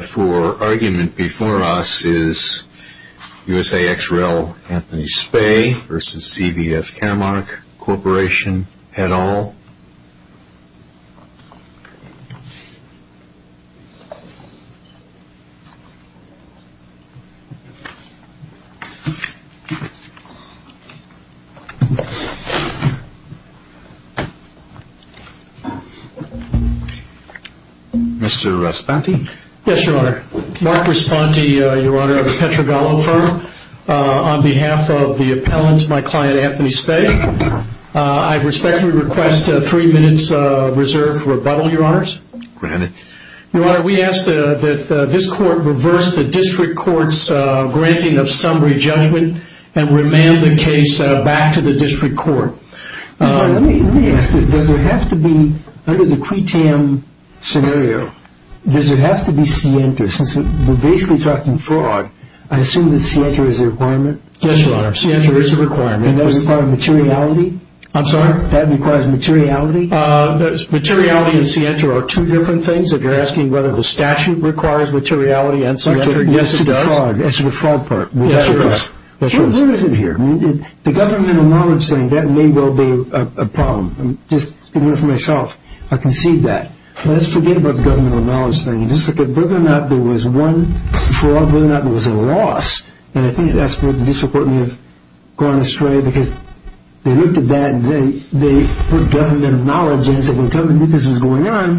For argument before us is USAXREL Anthony Spay v. CVS Caremark Corp. et al. Mr. Raspanti. Yes, Your Honor. Mark Raspanti, Your Honor, of the Petrogallo Firm. On behalf of the appellant, my client, Anthony Spay, I respectfully request a three-minute reserve for rebuttal, Your Honors. Granted. Your Honor, we ask that this Court reverse the District Court's granting of summary judgment and remand the case back to the District Court. Let me ask this. Does it have to be, under the CWI-TAM scenario, does it have to be Sienta? Since we're basically talking fraud, I assume that Sienta is a requirement? Yes, Your Honor. Sienta is a requirement. Does it require materiality? I'm sorry? That requires materiality? Materiality and Sienta are two different things. If you're asking whether the statute requires materiality and Sienta, yes, it does. As to the fraud part. Yes, it does. What is it here? The governmental knowledge thing, that may well be a problem. I'm just speaking for myself. I concede that. Let's forget about the governmental knowledge thing. Whether or not there was one fraud, whether or not there was a loss, and I think that's where the District Court may have gone astray because they looked at that and they put governmental knowledge in and said, well, government knew this was going on,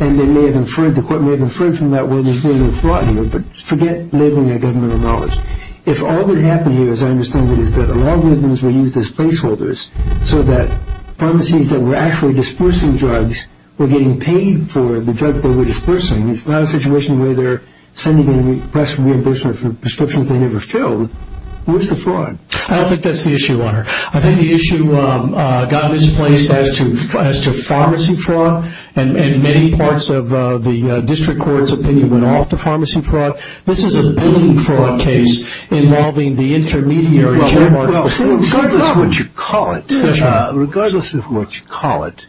and they may have inferred, the Court may have inferred from that, well, there's really no fraud here. But forget labeling it governmental knowledge. If all that happened here, as I understand it, is that the logarithms were used as placeholders so that pharmacies that were actually disbursing drugs were getting paid for the drugs they were disbursing. It's not a situation where they're sending a press reimbursement for prescriptions they never filled. Where's the fraud? I don't think that's the issue, Honor. I think the issue got misplaced as to pharmacy fraud, and many parts of the District Court's opinion went off to pharmacy fraud. This is a building fraud case involving the intermediary Well, regardless of what you call it, regardless of what you call it,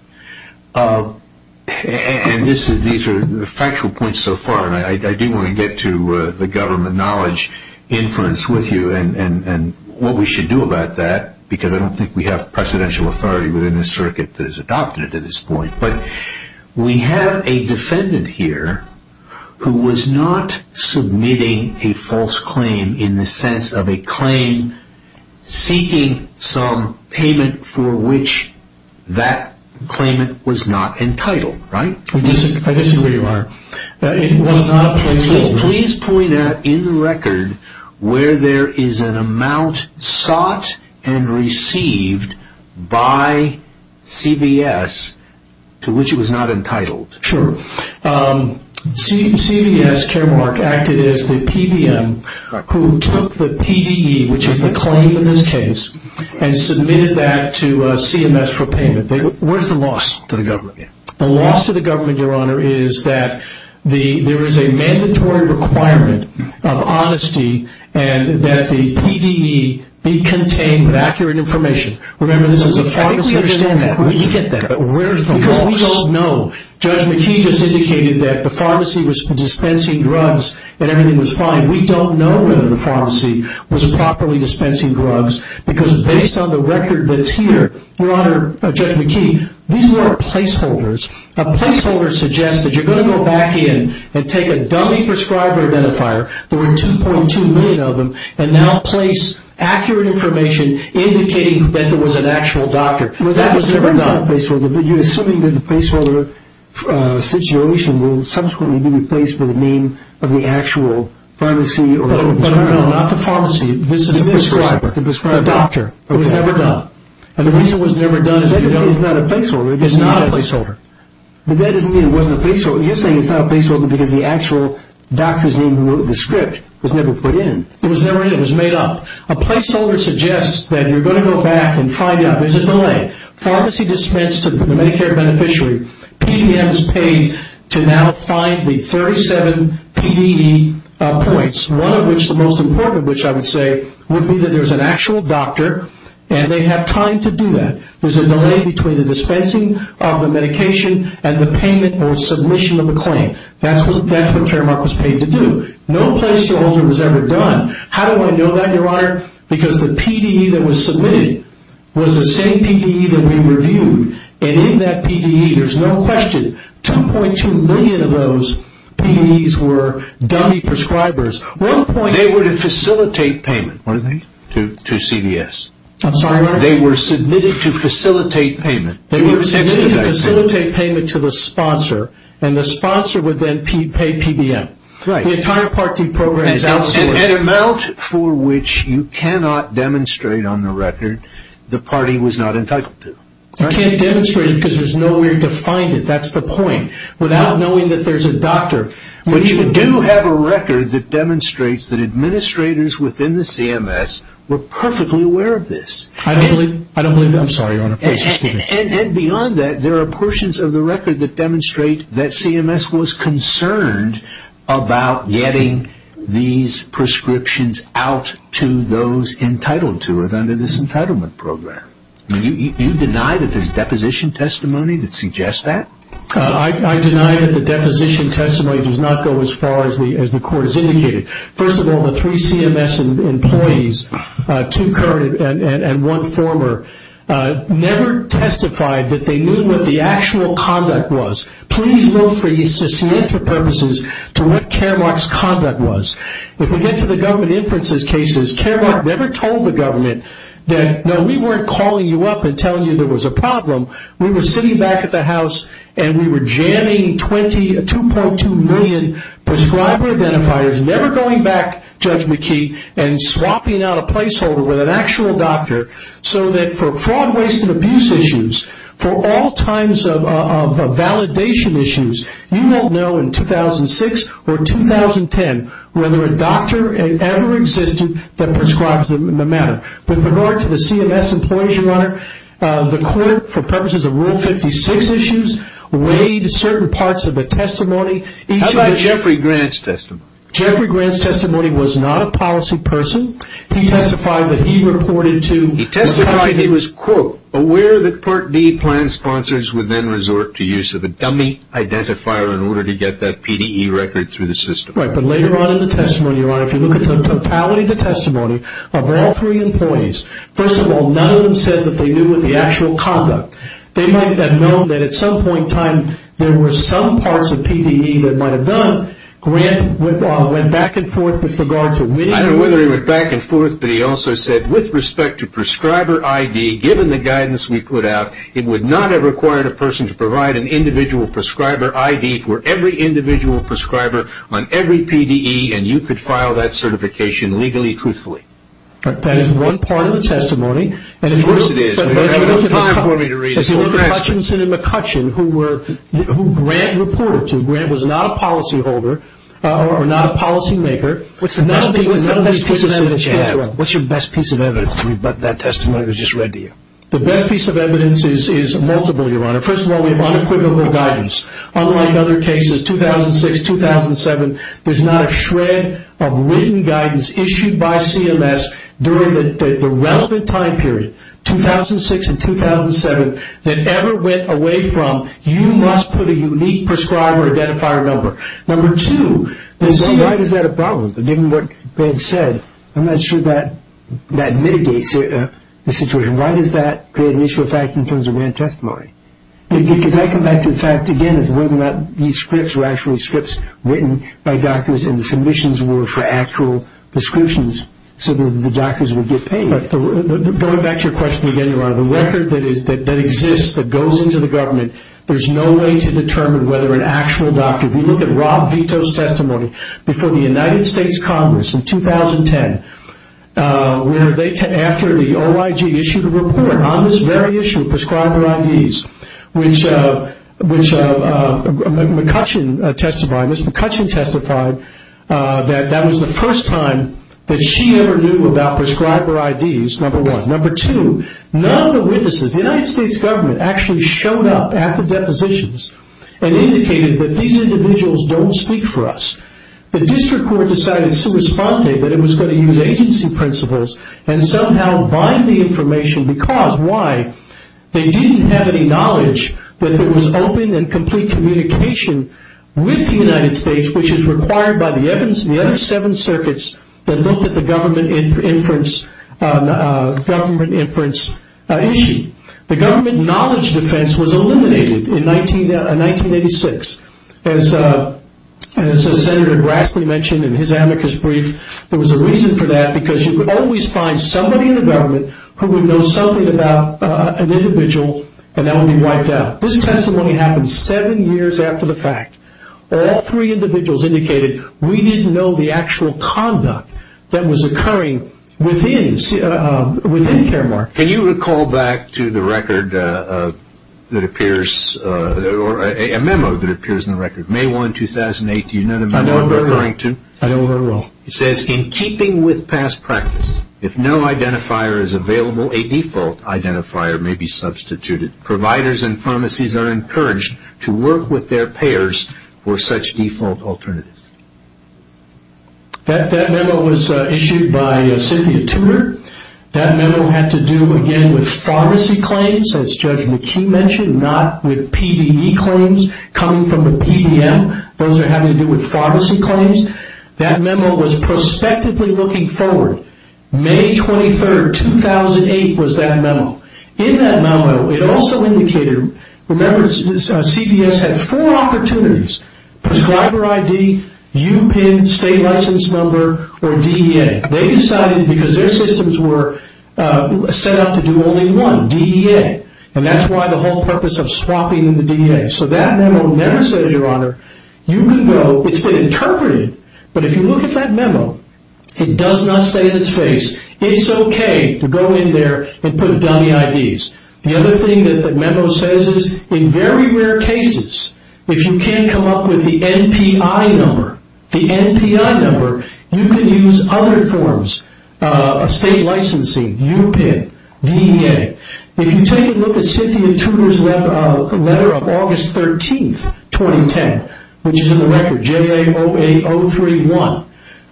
and these are factual points so far, and I do want to get to the government knowledge inference with you and what we should do about that, because I don't think we have precedential authority within this circuit that is adopted at this point, but we have a defendant here who was not submitting a false claim in the sense of a claim seeking some payment for which that claimant was not entitled, right? I disagree, Your Honor. Please point out in the record where there is an amount sought and received by CVS to which it was not entitled. Sure. CVS, care mark, acted as the PBM who took the PDE, which is the claim in this case, and submitted that to CMS for payment. Where's the loss to the government? The loss to the government, Your Honor, is that there is a mandatory requirement of honesty and that the PDE be contained with accurate information. I think we understand that. We get that. Because we don't know. Judge McKee just indicated that the pharmacy was dispensing drugs and everything was fine. We don't know whether the pharmacy was properly dispensing drugs because based on the record that's here, Your Honor, Judge McKee, these were placeholders. A placeholder suggests that you're going to go back in and take a dummy prescriber identifier, there were 2.2 million of them, and now place accurate information indicating that there was an actual doctor. That was never done. But you're assuming that the placeholder situation will subsequently be replaced by the name of the actual pharmacy or prescriber. No, not the pharmacy. The prescriber. The doctor. It was never done. And the reason it was never done is because it's not a placeholder. It's not a placeholder. But that doesn't mean it wasn't a placeholder. You're saying it's not a placeholder because the actual doctor's name who wrote the script was never put in. It was never in. It was made up. A placeholder suggests that you're going to go back and find out. There's a delay. Pharmacy dispensed to the Medicare beneficiary. PDM is paid to now find the 37 PDE points. One of which, the most important of which I would say, would be that there's an actual doctor and they have time to do that. There's a delay between the dispensing of the medication and the payment or submission of the claim. That's what Fairmark was paid to do. No placeholder was ever done. How do I know that, Your Honor? Because the PDE that was submitted was the same PDE that we reviewed. And in that PDE, there's no question, 2.2 million of those PDEs were dummy prescribers. They were to facilitate payment, weren't they, to CVS? I'm sorry, Your Honor? They were submitted to facilitate payment. They were submitted to facilitate payment to the sponsor. And the sponsor would then pay PBM. The entire Part D program is outsourced. An amount for which you cannot demonstrate on the record the party was not entitled to. You can't demonstrate because there's nowhere to find it. That's the point. Without knowing that there's a doctor. But you do have a record that demonstrates that administrators within the CMS were perfectly aware of this. I don't believe that. I'm sorry, Your Honor. And beyond that, there are portions of the record that demonstrate that CMS was concerned about getting these prescriptions out to those entitled to it under this entitlement program. You deny that there's deposition testimony that suggests that? I deny that the deposition testimony does not go as far as the court has indicated. First of all, the three CMS employees, two current and one former, never testified that they knew what the actual conduct was. Please look for these to see if your purposes to what Caremark's conduct was. If we get to the government inferences cases, Caremark never told the government that, no, we weren't calling you up and telling you there was a problem. We were sitting back at the house and we were jamming 20, 2.2 million prescriber identifiers, never going back, Judge McKee, and swapping out a placeholder with an actual doctor so that for fraud, waste, and abuse issues, for all kinds of validation issues, you won't know in 2006 or 2010 whether a doctor ever existed that prescribed the matter. With regard to the CMS employees, Your Honor, the court, for purposes of Rule 56 issues, weighed certain parts of the testimony. How about Jeffrey Grant's testimony? Jeffrey Grant's testimony was not a policy person. He testified that he reported to the country that he was, quote, aware that Part D plan sponsors would then resort to use of a dummy identifier in order to get that PDE record through the system. Right, but later on in the testimony, Your Honor, if you look at the totality of the testimony of all three employees, first of all, none of them said that they knew what the actual conduct. They might have known that at some point in time, there were some parts of PDE that might have done. Grant went back and forth with regard to winning or losing. I don't know whether he went back and forth, but he also said, with respect to prescriber ID, given the guidance we put out, it would not have required a person to provide an individual prescriber ID for every individual prescriber on every PDE, and you could file that certification legally, truthfully. That is one part of the testimony. Of course it is. We don't have enough time for me to read it. McCutcheon, who Grant reported to, Grant was not a policy holder, or not a policy maker. What's the best piece of evidence you have? What's your best piece of evidence to rebut that testimony that was just read to you? The best piece of evidence is multiple, Your Honor. First of all, we have unequivocal guidance. Unlike other cases, 2006, 2007, there's not a shred of written guidance issued by CMS during the relevant time period, 2006 and 2007, that ever went away from, you must put a unique prescriber identifier number. Number two, why is that a problem? Given what Grant said, I'm not sure that mitigates the situation. Why does that create an issue of fact in terms of Grant testimony? Because I come back to the fact, again, that these scripts were actually scripts written by doctors and the submissions were for actual prescriptions, so that the doctors would get paid. Going back to your question again, Your Honor, the record that exists, that goes into the government, there's no way to determine whether an actual doctor, if you look at Rob Vito's testimony, before the United States Congress in 2010, after the OIG issued a report on this very issue of prescriber IDs, which McCutcheon testified, Ms. McCutcheon testified that that was the first time that she ever knew about prescriber IDs, number one. Number two, none of the witnesses, the United States government actually showed up at the depositions and indicated that these individuals don't speak for us. The district court decided sui sponte, that it was going to use agency principles and somehow bind the information because, why? They didn't have any knowledge that there was open and complete communication with the United States, which is required by the evidence in the other seven circuits that look at the government inference issue. The government knowledge defense was eliminated in 1986. As Senator Grassley mentioned in his amicus brief, there was a reason for that because you could always find somebody in the government who would know something about an individual and that would be wiped out. This testimony happened seven years after the fact. All three individuals indicated, we didn't know the actual conduct that was occurring within Caremark. Can you recall back to the record that appears, a memo that appears in the record, May 1, 2008, do you know the memo you're referring to? I don't recall. It says, in keeping with past practice, if no identifier is available, a default identifier may be substituted. Providers and pharmacies are encouraged to work with their payers for such default alternatives. That memo was issued by Cynthia Tumor. That memo had to do, again, with pharmacy claims, as Judge McKee mentioned, not with PDE claims coming from the PDM. Those are having to do with pharmacy claims. That memo was prospectively looking forward. May 23, 2008, was that memo. In that memo, it also indicated, remember CBS had four opportunities, prescriber ID, UPIN, state license number, or DEA. They decided, because their systems were set up to do only one, DEA. That's why the whole purpose of swapping the DEA. That memo never says, Your Honor, you can go. It's been interpreted, but if you look at that memo, it does not say in its face, it's okay to go in there and put dummy IDs. The other thing that the memo says is, in very rare cases, if you can't come up with the NPI number, you can use other forms of state licensing, UPIN, DEA. If you take a look at Cynthia Tumor's letter of August 13, 2010, which is in the record, JLA 08031,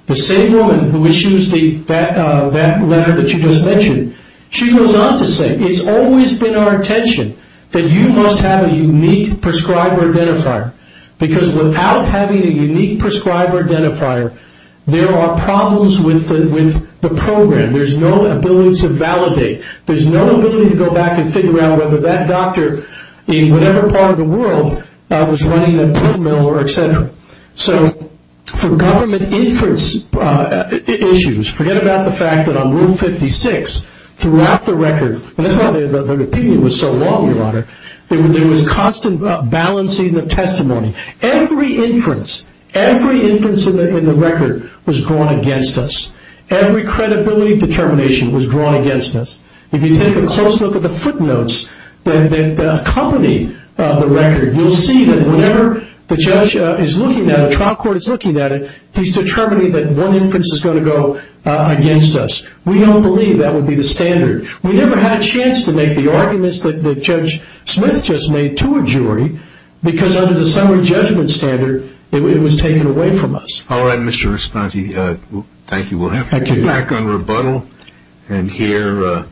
the same woman who issues that letter that you just mentioned, she goes on to say, It's always been our intention that you must have a unique prescriber identifier. Because without having a unique prescriber identifier, there are problems with the program. There's no ability to validate. There's no ability to go back and figure out whether that doctor, in whatever part of the world, was running a print mill or et cetera. So for government inference issues, forget about the fact that on Rule 56, throughout the record, and that's why the opinion was so long, Your Honor, there was constant balancing of testimony. Every inference, every inference in the record was drawn against us. Every credibility determination was drawn against us. If you take a close look at the footnotes that accompany the record, you'll see that whenever the judge is looking at it, the trial court is looking at it, he's determining that one inference is going to go against us. We don't believe that would be the standard. We never had a chance to make the arguments that Judge Smith just made to a jury because under the summer judgment standard, it was taken away from us. All right, Mr. Risponti. Thank you. We'll have you back on rebuttal and hear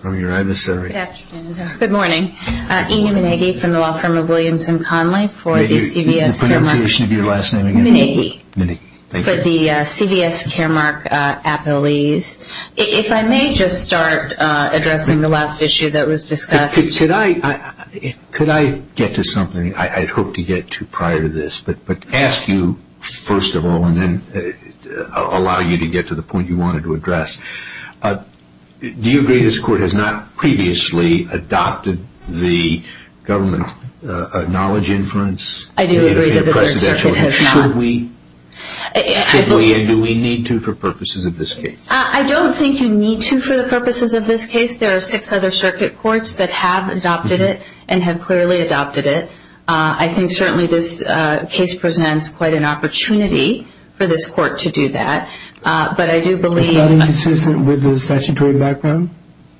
from your adversary. Good morning. Ina Minnicki from the law firm of Williams & Conley for the CVS Caremark. The pronunciation of your last name again? Minnicki. Minnicki. For the CVS Caremark appellees. If I may just start addressing the last issue that was discussed. Could I get to something I hoped to get to prior to this, but ask you first of all and then allow you to get to the point you wanted to address. Do you agree this court has not previously adopted the government knowledge inference? I do agree that it has not. Should we? Should we and do we need to for purposes of this case? I don't think you need to for the purposes of this case. There are six other circuit courts that have adopted it and have clearly adopted it. I think certainly this case presents quite an opportunity for this court to do that. But I do believe – It's not inconsistent with the statutory background?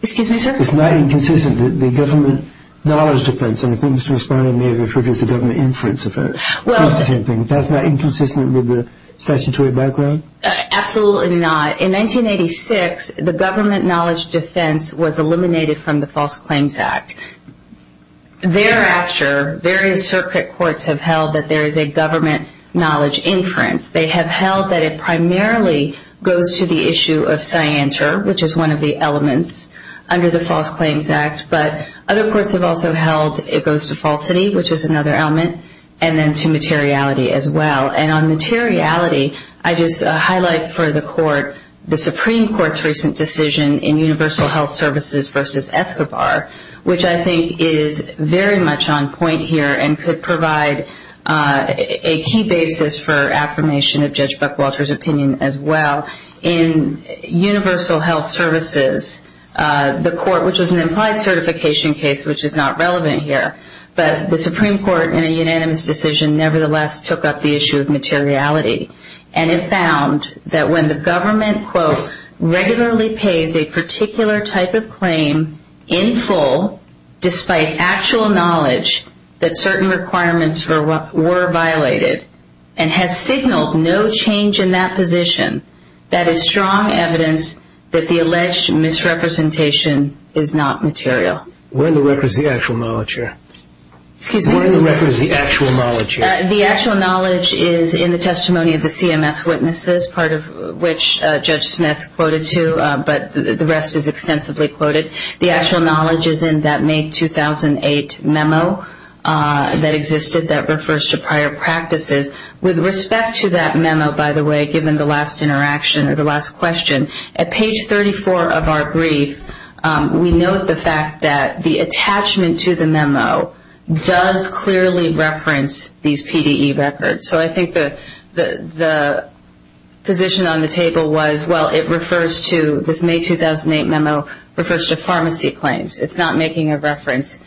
Excuse me, sir? It's not inconsistent that the government knowledge difference, and I think Mr. Risponti may have referred to it as the government inference effect, is the same thing. That's not inconsistent with the statutory background? Absolutely not. In 1986, the government knowledge defense was eliminated from the False Claims Act. Thereafter, various circuit courts have held that there is a government knowledge inference. They have held that it primarily goes to the issue of scienter, which is one of the elements under the False Claims Act. But other courts have also held it goes to falsity, which is another element, and then to materiality as well. And on materiality, I just highlight for the court the Supreme Court's recent decision in Universal Health Services v. Escobar, which I think is very much on point here and could provide a key basis for affirmation of Judge Buckwalter's opinion as well. In Universal Health Services, the court, which is an implied certification case, which is not relevant here, but the Supreme Court in a unanimous decision nevertheless took up the issue of materiality and it found that when the government, quote, regularly pays a particular type of claim in full, despite actual knowledge that certain requirements were violated and has signaled no change in that position, that is strong evidence that the alleged misrepresentation is not material. Where in the record is the actual knowledge here? Excuse me? Where in the record is the actual knowledge here? The actual knowledge is in the testimony of the CMS witnesses, part of which Judge Smith quoted to, but the rest is extensively quoted. The actual knowledge is in that May 2008 memo that existed that refers to prior practices. With respect to that memo, by the way, given the last interaction or the last question, at page 34 of our brief we note the fact that the attachment to the memo does clearly reference these PDE records. So I think the position on the table was, well, it refers to this May 2008 memo refers to pharmacy claims. It's not making a reference to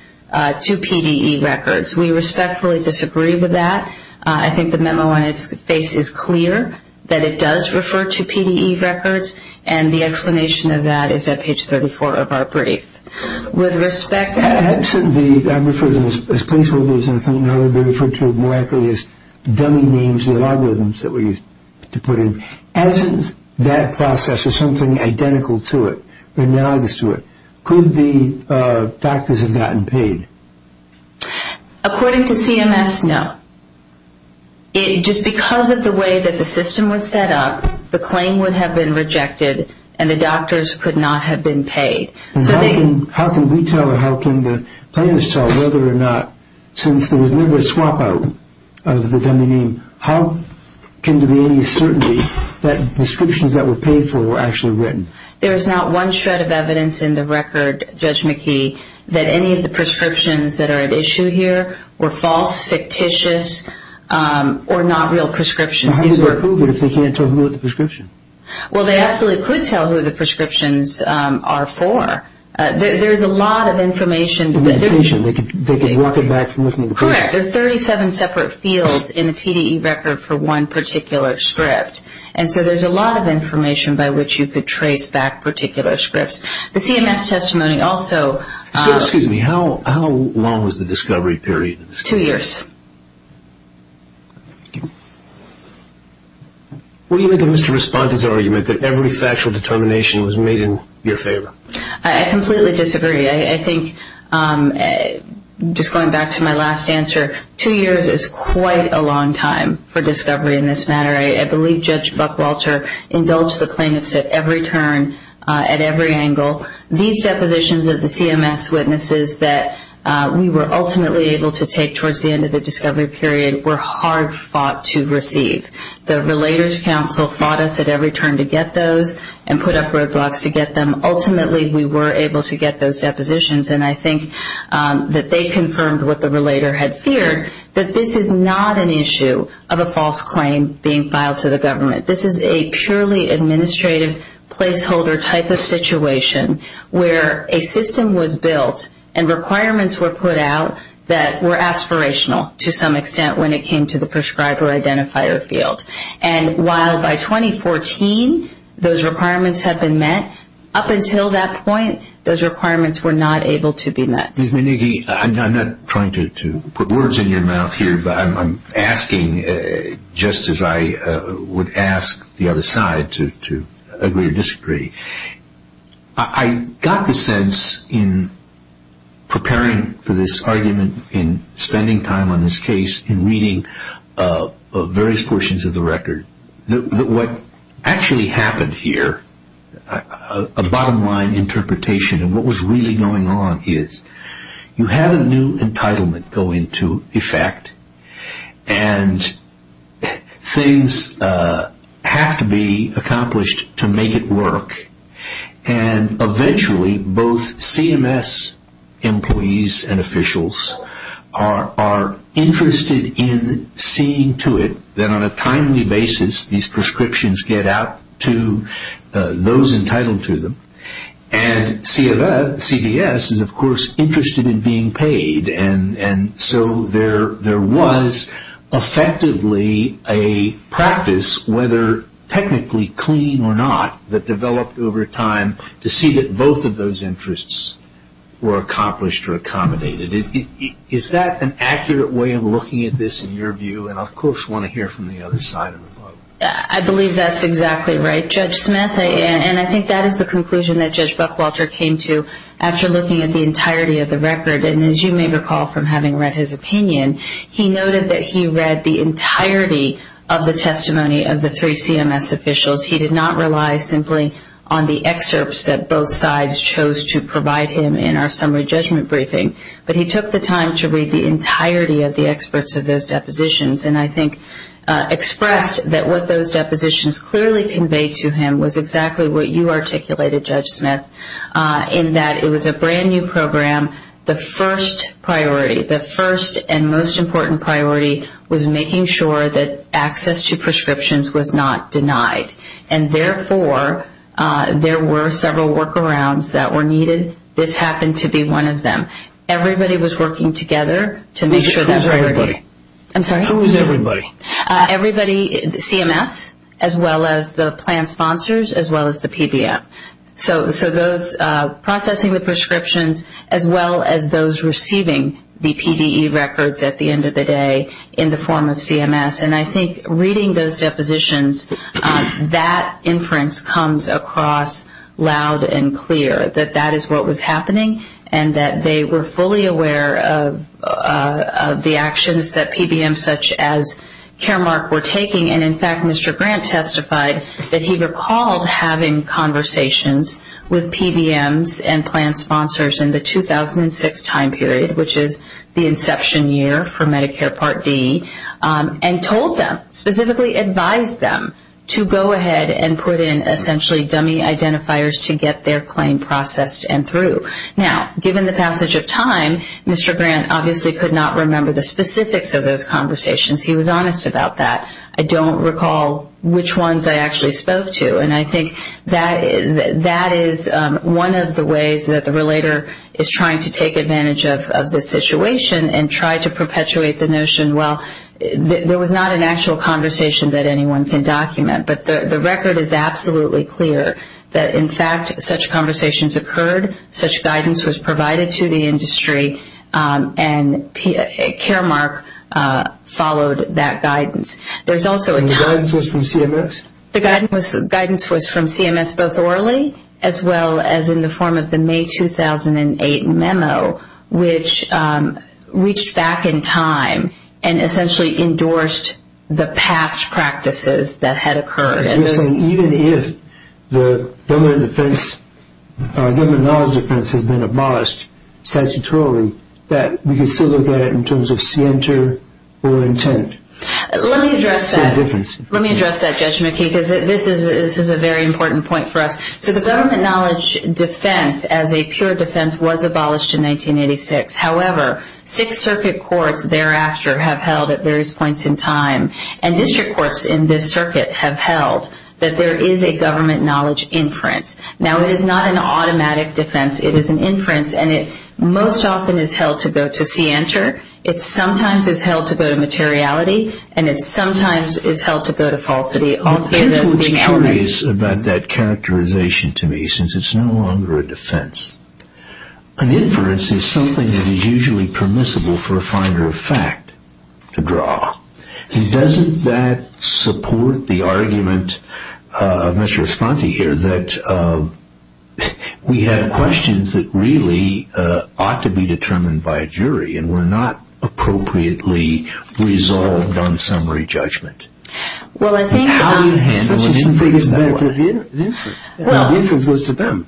PDE records. We respectfully disagree with that. I think the memo on its face is clear, that it does refer to PDE records, and the explanation of that is at page 34 of our brief. With respect to the- I refer to them as placeholders, and I think they're referred to more accurately as dummy names, the algorithms that were used to put in. As in that process, there's something identical to it, analogous to it. Could the doctors have gotten paid? According to CMS, no. Just because of the way that the system was set up, the claim would have been rejected, and the doctors could not have been paid. How can we tell or how can the plaintiffs tell whether or not, since there was never a swap out of the dummy name, how can there be any certainty that prescriptions that were paid for were actually written? There's not one shred of evidence in the record, Judge McKee, that any of the prescriptions that are at issue here were false, fictitious, or not real prescriptions. How can they prove it if they can't tell who wrote the prescription? Well, they absolutely could tell who the prescriptions are for. There's a lot of information. They could walk it back from looking at the prescriptions. Correct. There's 37 separate fields in a PDE record for one particular script, and so there's a lot of information by which you could trace back particular scripts. The CMS testimony also- So, excuse me, how long was the discovery period? Two years. What do you make of Mr. Responda's argument that every factual determination was made in your favor? I completely disagree. I think, just going back to my last answer, two years is quite a long time for discovery in this matter. I believe Judge Buckwalter indulged the plaintiffs at every turn, at every angle. These depositions of the CMS witnesses that we were ultimately able to take towards the end of the discovery period were hard fought to receive. The Relators Council fought us at every turn to get those and put up roadblocks to get them. Ultimately, we were able to get those depositions, and I think that they confirmed what the relator had feared, that this is not an issue of a false claim being filed to the government. This is a purely administrative placeholder type of situation where a system was built and requirements were put out that were aspirational to some extent when it came to the prescriber identifier field. And while by 2014 those requirements had been met, up until that point those requirements were not able to be met. Ms. Menighe, I'm not trying to put words in your mouth here, but I'm asking just as I would ask the other side to agree or disagree. I got the sense in preparing for this argument, in spending time on this case, in reading various portions of the record, that what actually happened here, a bottom line interpretation of what was really going on is you have a new entitlement go into effect and things have to be accomplished to make it work. And eventually both CMS employees and officials are interested in seeing to it that on a timely basis these prescriptions get out to those entitled to them. And CVS is, of course, interested in being paid, and so there was effectively a practice, whether technically clean or not, that developed over time to see that both of those interests were accomplished or accommodated. Is that an accurate way of looking at this in your view? And I, of course, want to hear from the other side of the boat. I believe that's exactly right. Judge Smith, and I think that is the conclusion that Judge Buckwalter came to after looking at the entirety of the record. And as you may recall from having read his opinion, he noted that he read the entirety of the testimony of the three CMS officials. He did not rely simply on the excerpts that both sides chose to provide him in our summary judgment briefing, but he took the time to read the entirety of the experts of those depositions and I think expressed that what those depositions clearly conveyed to him was exactly what you articulated, Judge Smith, in that it was a brand-new program. The first priority, the first and most important priority, was making sure that access to prescriptions was not denied. And therefore, there were several workarounds that were needed. This happened to be one of them. Everybody was working together to make sure that was ready. Who was everybody? I'm sorry? Who was everybody? Everybody, CMS, as well as the plan sponsors, as well as the PBM. So those processing the prescriptions as well as those receiving the PDE records at the end of the day in the form of CMS. And I think reading those depositions, that inference comes across loud and clear, that that is what was happening and that they were fully aware of the actions that PBMs such as Caremark were taking. And, in fact, Mr. Grant testified that he recalled having conversations with PBMs and plan sponsors in the 2006 time period, which is the inception year for Medicare Part D, and told them, specifically advised them to go ahead and put in essentially dummy identifiers to get their claim processed and through. Now, given the passage of time, Mr. Grant obviously could not remember the specifics of those conversations. He was honest about that. I don't recall which ones I actually spoke to. And I think that is one of the ways that the relator is trying to take advantage of this situation and try to perpetuate the notion, well, there was not an actual conversation that anyone can document. But the record is absolutely clear that, in fact, such conversations occurred, such guidance was provided to the industry, and Caremark followed that guidance. And the guidance was from CMS? The guidance was from CMS both orally as well as in the form of the May 2008 memo, which reached back in time and essentially endorsed the past practices that had occurred. So you're saying even if the government defense, government knowledge defense, has been abolished statutorily, that we can still look at it in terms of scienter or intent? Let me address that. That's the difference. Let me address that, Judge McKee, because this is a very important point for us. So the government knowledge defense as a pure defense was abolished in 1986. However, six circuit courts thereafter have held at various points in time, and district courts in this circuit have held that there is a government knowledge inference. Now, it is not an automatic defense. It is an inference, and it most often is held to go to see enter. It sometimes is held to go to materiality, and it sometimes is held to go to falsity. I was curious about that characterization to me, since it's no longer a defense. An inference is something that is usually permissible for a finder of fact to draw. And doesn't that support the argument of Mr. Esponti here that we have questions that really ought to be not appropriately resolved on summary judgment? How do you handle an inference that way? The inference was to them.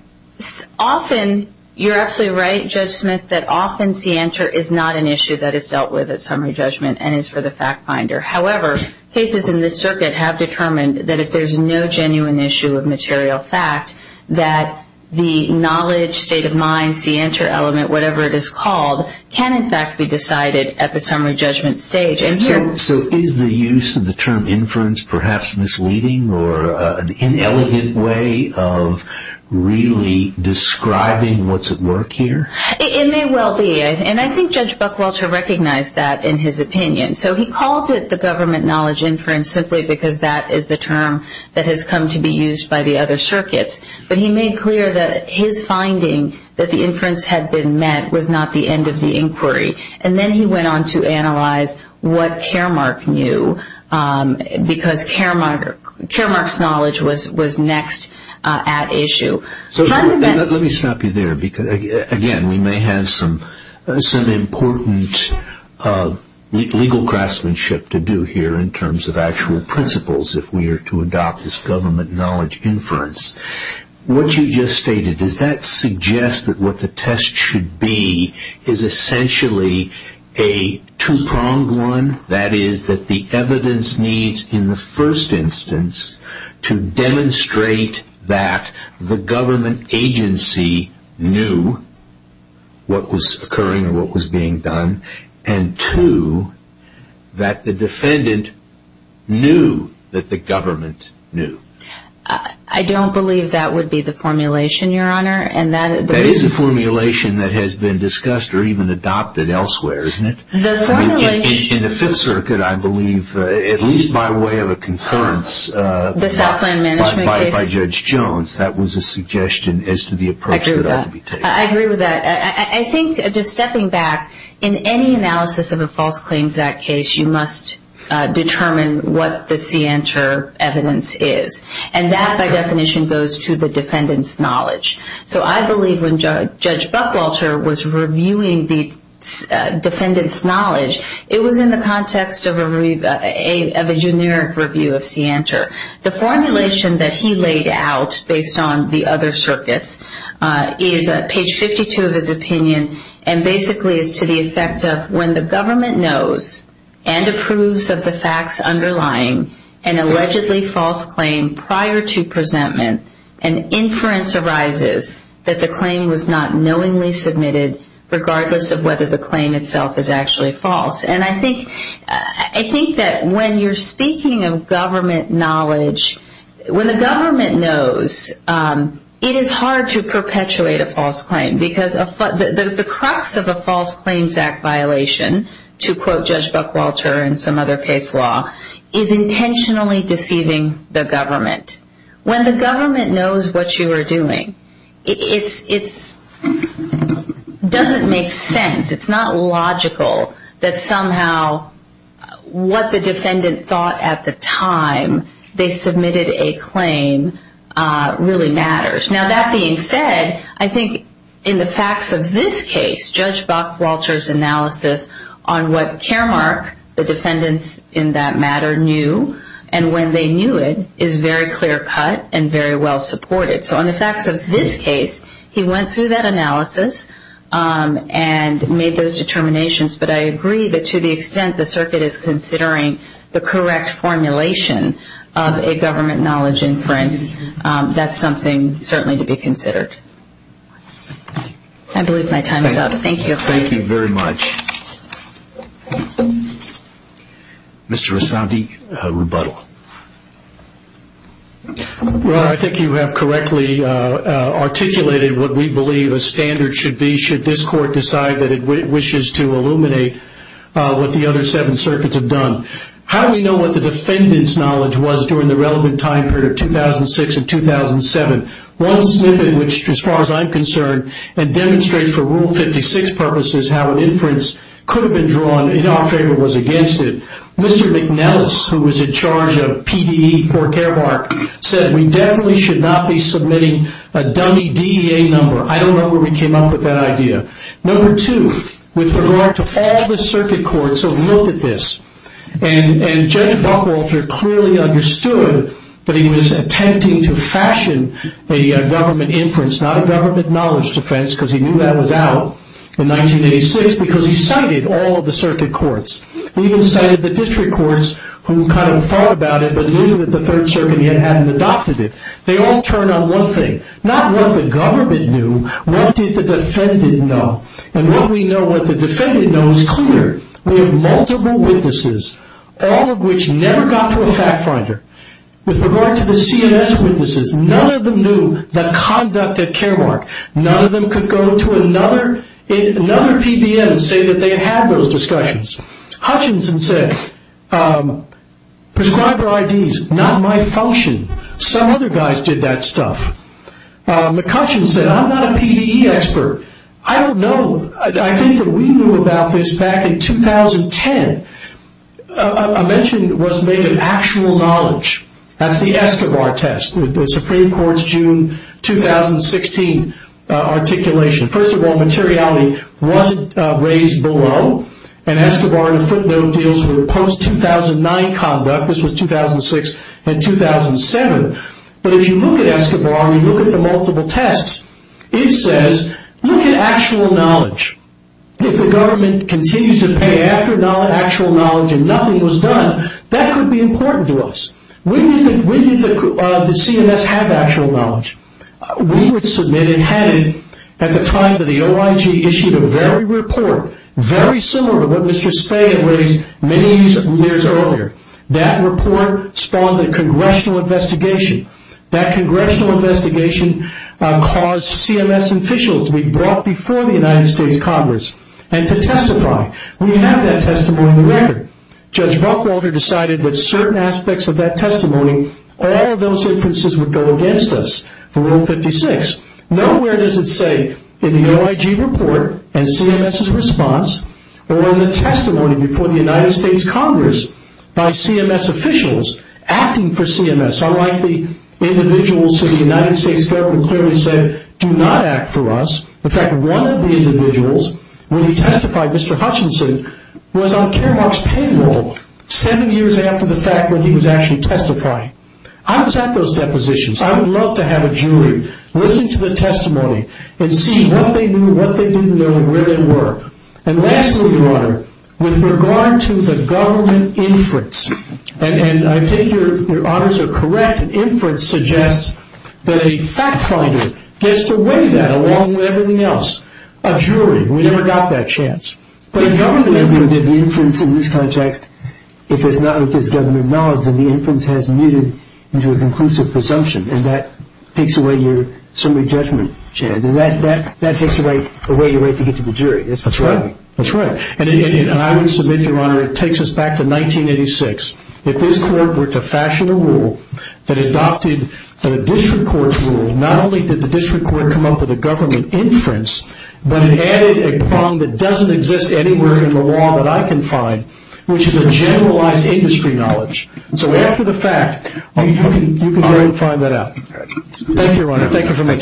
Often, you're absolutely right, Judge Smith, that often see enter is not an issue that is dealt with at summary judgment and is for the fact finder. However, cases in this circuit have determined that if there's no genuine issue of material fact, that the knowledge, state of mind, see enter element, whatever it is called, can in fact be decided at the summary judgment stage. So is the use of the term inference perhaps misleading or an inelegant way of really describing what's at work here? It may well be, and I think Judge Buckwalter recognized that in his opinion. So he called it the government knowledge inference simply because that is the term that has come to be used by the other circuits. But he made clear that his finding that the inference had been met was not the end of the inquiry. And then he went on to analyze what Caremark knew because Caremark's knowledge was next at issue. Let me stop you there. Again, we may have some important legal craftsmanship to do here in terms of actual principles if we are to adopt this government knowledge inference. What you just stated, does that suggest that what the test should be is essentially a two-pronged one? That is that the evidence needs in the first instance to demonstrate that the government agency knew what was occurring or what was being done, and two, that the defendant knew that the government knew. I don't believe that would be the formulation, Your Honor. That is a formulation that has been discussed or even adopted elsewhere, isn't it? In the Fifth Circuit, I believe, at least by way of a concurrence by Judge Jones, that was a suggestion as to the approach that ought to be taken. I agree with that. I think, just stepping back, in any analysis of a false claims act case, you must determine what the scienter evidence is. And that, by definition, goes to the defendant's knowledge. So I believe when Judge Buckwalter was reviewing the defendant's knowledge, it was in the context of a generic review of scienter. The formulation that he laid out based on the other circuits is at page 52 of his opinion, and basically is to the effect of, when the government knows and approves of the facts underlying an allegedly false claim prior to presentment, an inference arises that the claim was not knowingly submitted, regardless of whether the claim itself is actually false. And I think that when you're speaking of government knowledge, when the government knows, it is hard to perpetuate a false claim, because the crux of a false claims act violation, to quote Judge Buckwalter in some other case law, is intentionally deceiving the government. When the government knows what you are doing, it doesn't make sense. It's not logical that somehow what the defendant thought at the time they submitted a claim really matters. Now, that being said, I think in the facts of this case, Judge Buckwalter's analysis on what Caremark, the defendants in that matter, knew, and when they knew it, is very clear cut and very well supported. So in the facts of this case, he went through that analysis and made those determinations, but I agree that to the extent the circuit is considering the correct formulation of a government knowledge inference, that's something certainly to be considered. I believe my time is up. Thank you. Thank you very much. Mr. Asante, rebuttal. Well, I think you have correctly articulated what we believe a standard should be should this court decide that it wishes to illuminate what the other seven circuits have done. How do we know what the defendants' knowledge was during the relevant time period of 2006 and 2007? One snippet, which as far as I'm concerned, and demonstrates for Rule 56 purposes how an inference could have been drawn in our favor was against it. Mr. McNellis, who was in charge of PDE for Caremark, said we definitely should not be submitting a dummy DEA number. I don't know where we came up with that idea. Number two, with regard to all the circuit courts who have looked at this, and Judge Buckwalter clearly understood that he was attempting to fashion a government inference, not a government knowledge defense, because he knew that was out in 1986, because he cited all of the circuit courts. He even cited the district courts who kind of thought about it, but knew that the Third Circuit hadn't adopted it. They all turn on one thing. Not what the government knew, what did the defendant know? And what we know what the defendant knows is clear. We have multiple witnesses, all of which never got to a fact finder. With regard to the CMS witnesses, none of them knew the conduct at Caremark. None of them could go to another PBM and say that they had those discussions. Hutchinson said, prescriber IDs, not my function. Some other guys did that stuff. McCutcheon said, I'm not a PDE expert. I don't know. I think that we knew about this back in 2010. I mentioned it was made of actual knowledge. That's the Escobar test, the Supreme Court's June 2016 articulation. First of all, materiality wasn't raised below, and Escobar in a footnote deals with post-2009 conduct. This was 2006 and 2007. But if you look at Escobar and you look at the multiple tests, it says, look at actual knowledge. If the government continues to pay after actual knowledge and nothing was done, that could be important to us. When did the CMS have actual knowledge? We would submit and had it at the time that the OIG issued a very report, very similar to what Mr. Spey had raised many years earlier. That report spawned a congressional investigation. That congressional investigation caused CMS officials to be brought before the United States Congress and to testify. We have that testimony on the record. Judge Buckwalter decided that certain aspects of that testimony, all of those inferences would go against us, Rule 56. Nowhere does it say in the OIG report and CMS's response or in the testimony before the United States Congress by CMS officials acting for CMS, unlike the individuals who the United States government clearly said, do not act for us. In fact, one of the individuals, when he testified, Mr. Hutchinson, was on Karamark's payroll seven years after the fact when he was actually testifying. I was at those depositions. I would love to have a jury listen to the testimony and see what they knew, what they didn't know, and where they were. And lastly, Your Honor, with regard to the government inference, and I think Your Honors are correct, inference suggests that a fact finder gets to weigh that along with everything else. A jury, we never got that chance. But a government inference in this context, if it's not with this government knowledge, then the inference has muted into a conclusive presumption, and that takes away your summary judgment, Chad. That takes away your right to get to the jury. That's right. That's right. And I would submit, Your Honor, it takes us back to 1986. If this court were to fashion a rule that adopted a district court rule, not only did the district court come up with a government inference, but it added a prong that doesn't exist anywhere in the law that I can find, which is a generalized industry knowledge. So after the fact, you can go and find that out. Thank you, Your Honor. Thank you for meeting.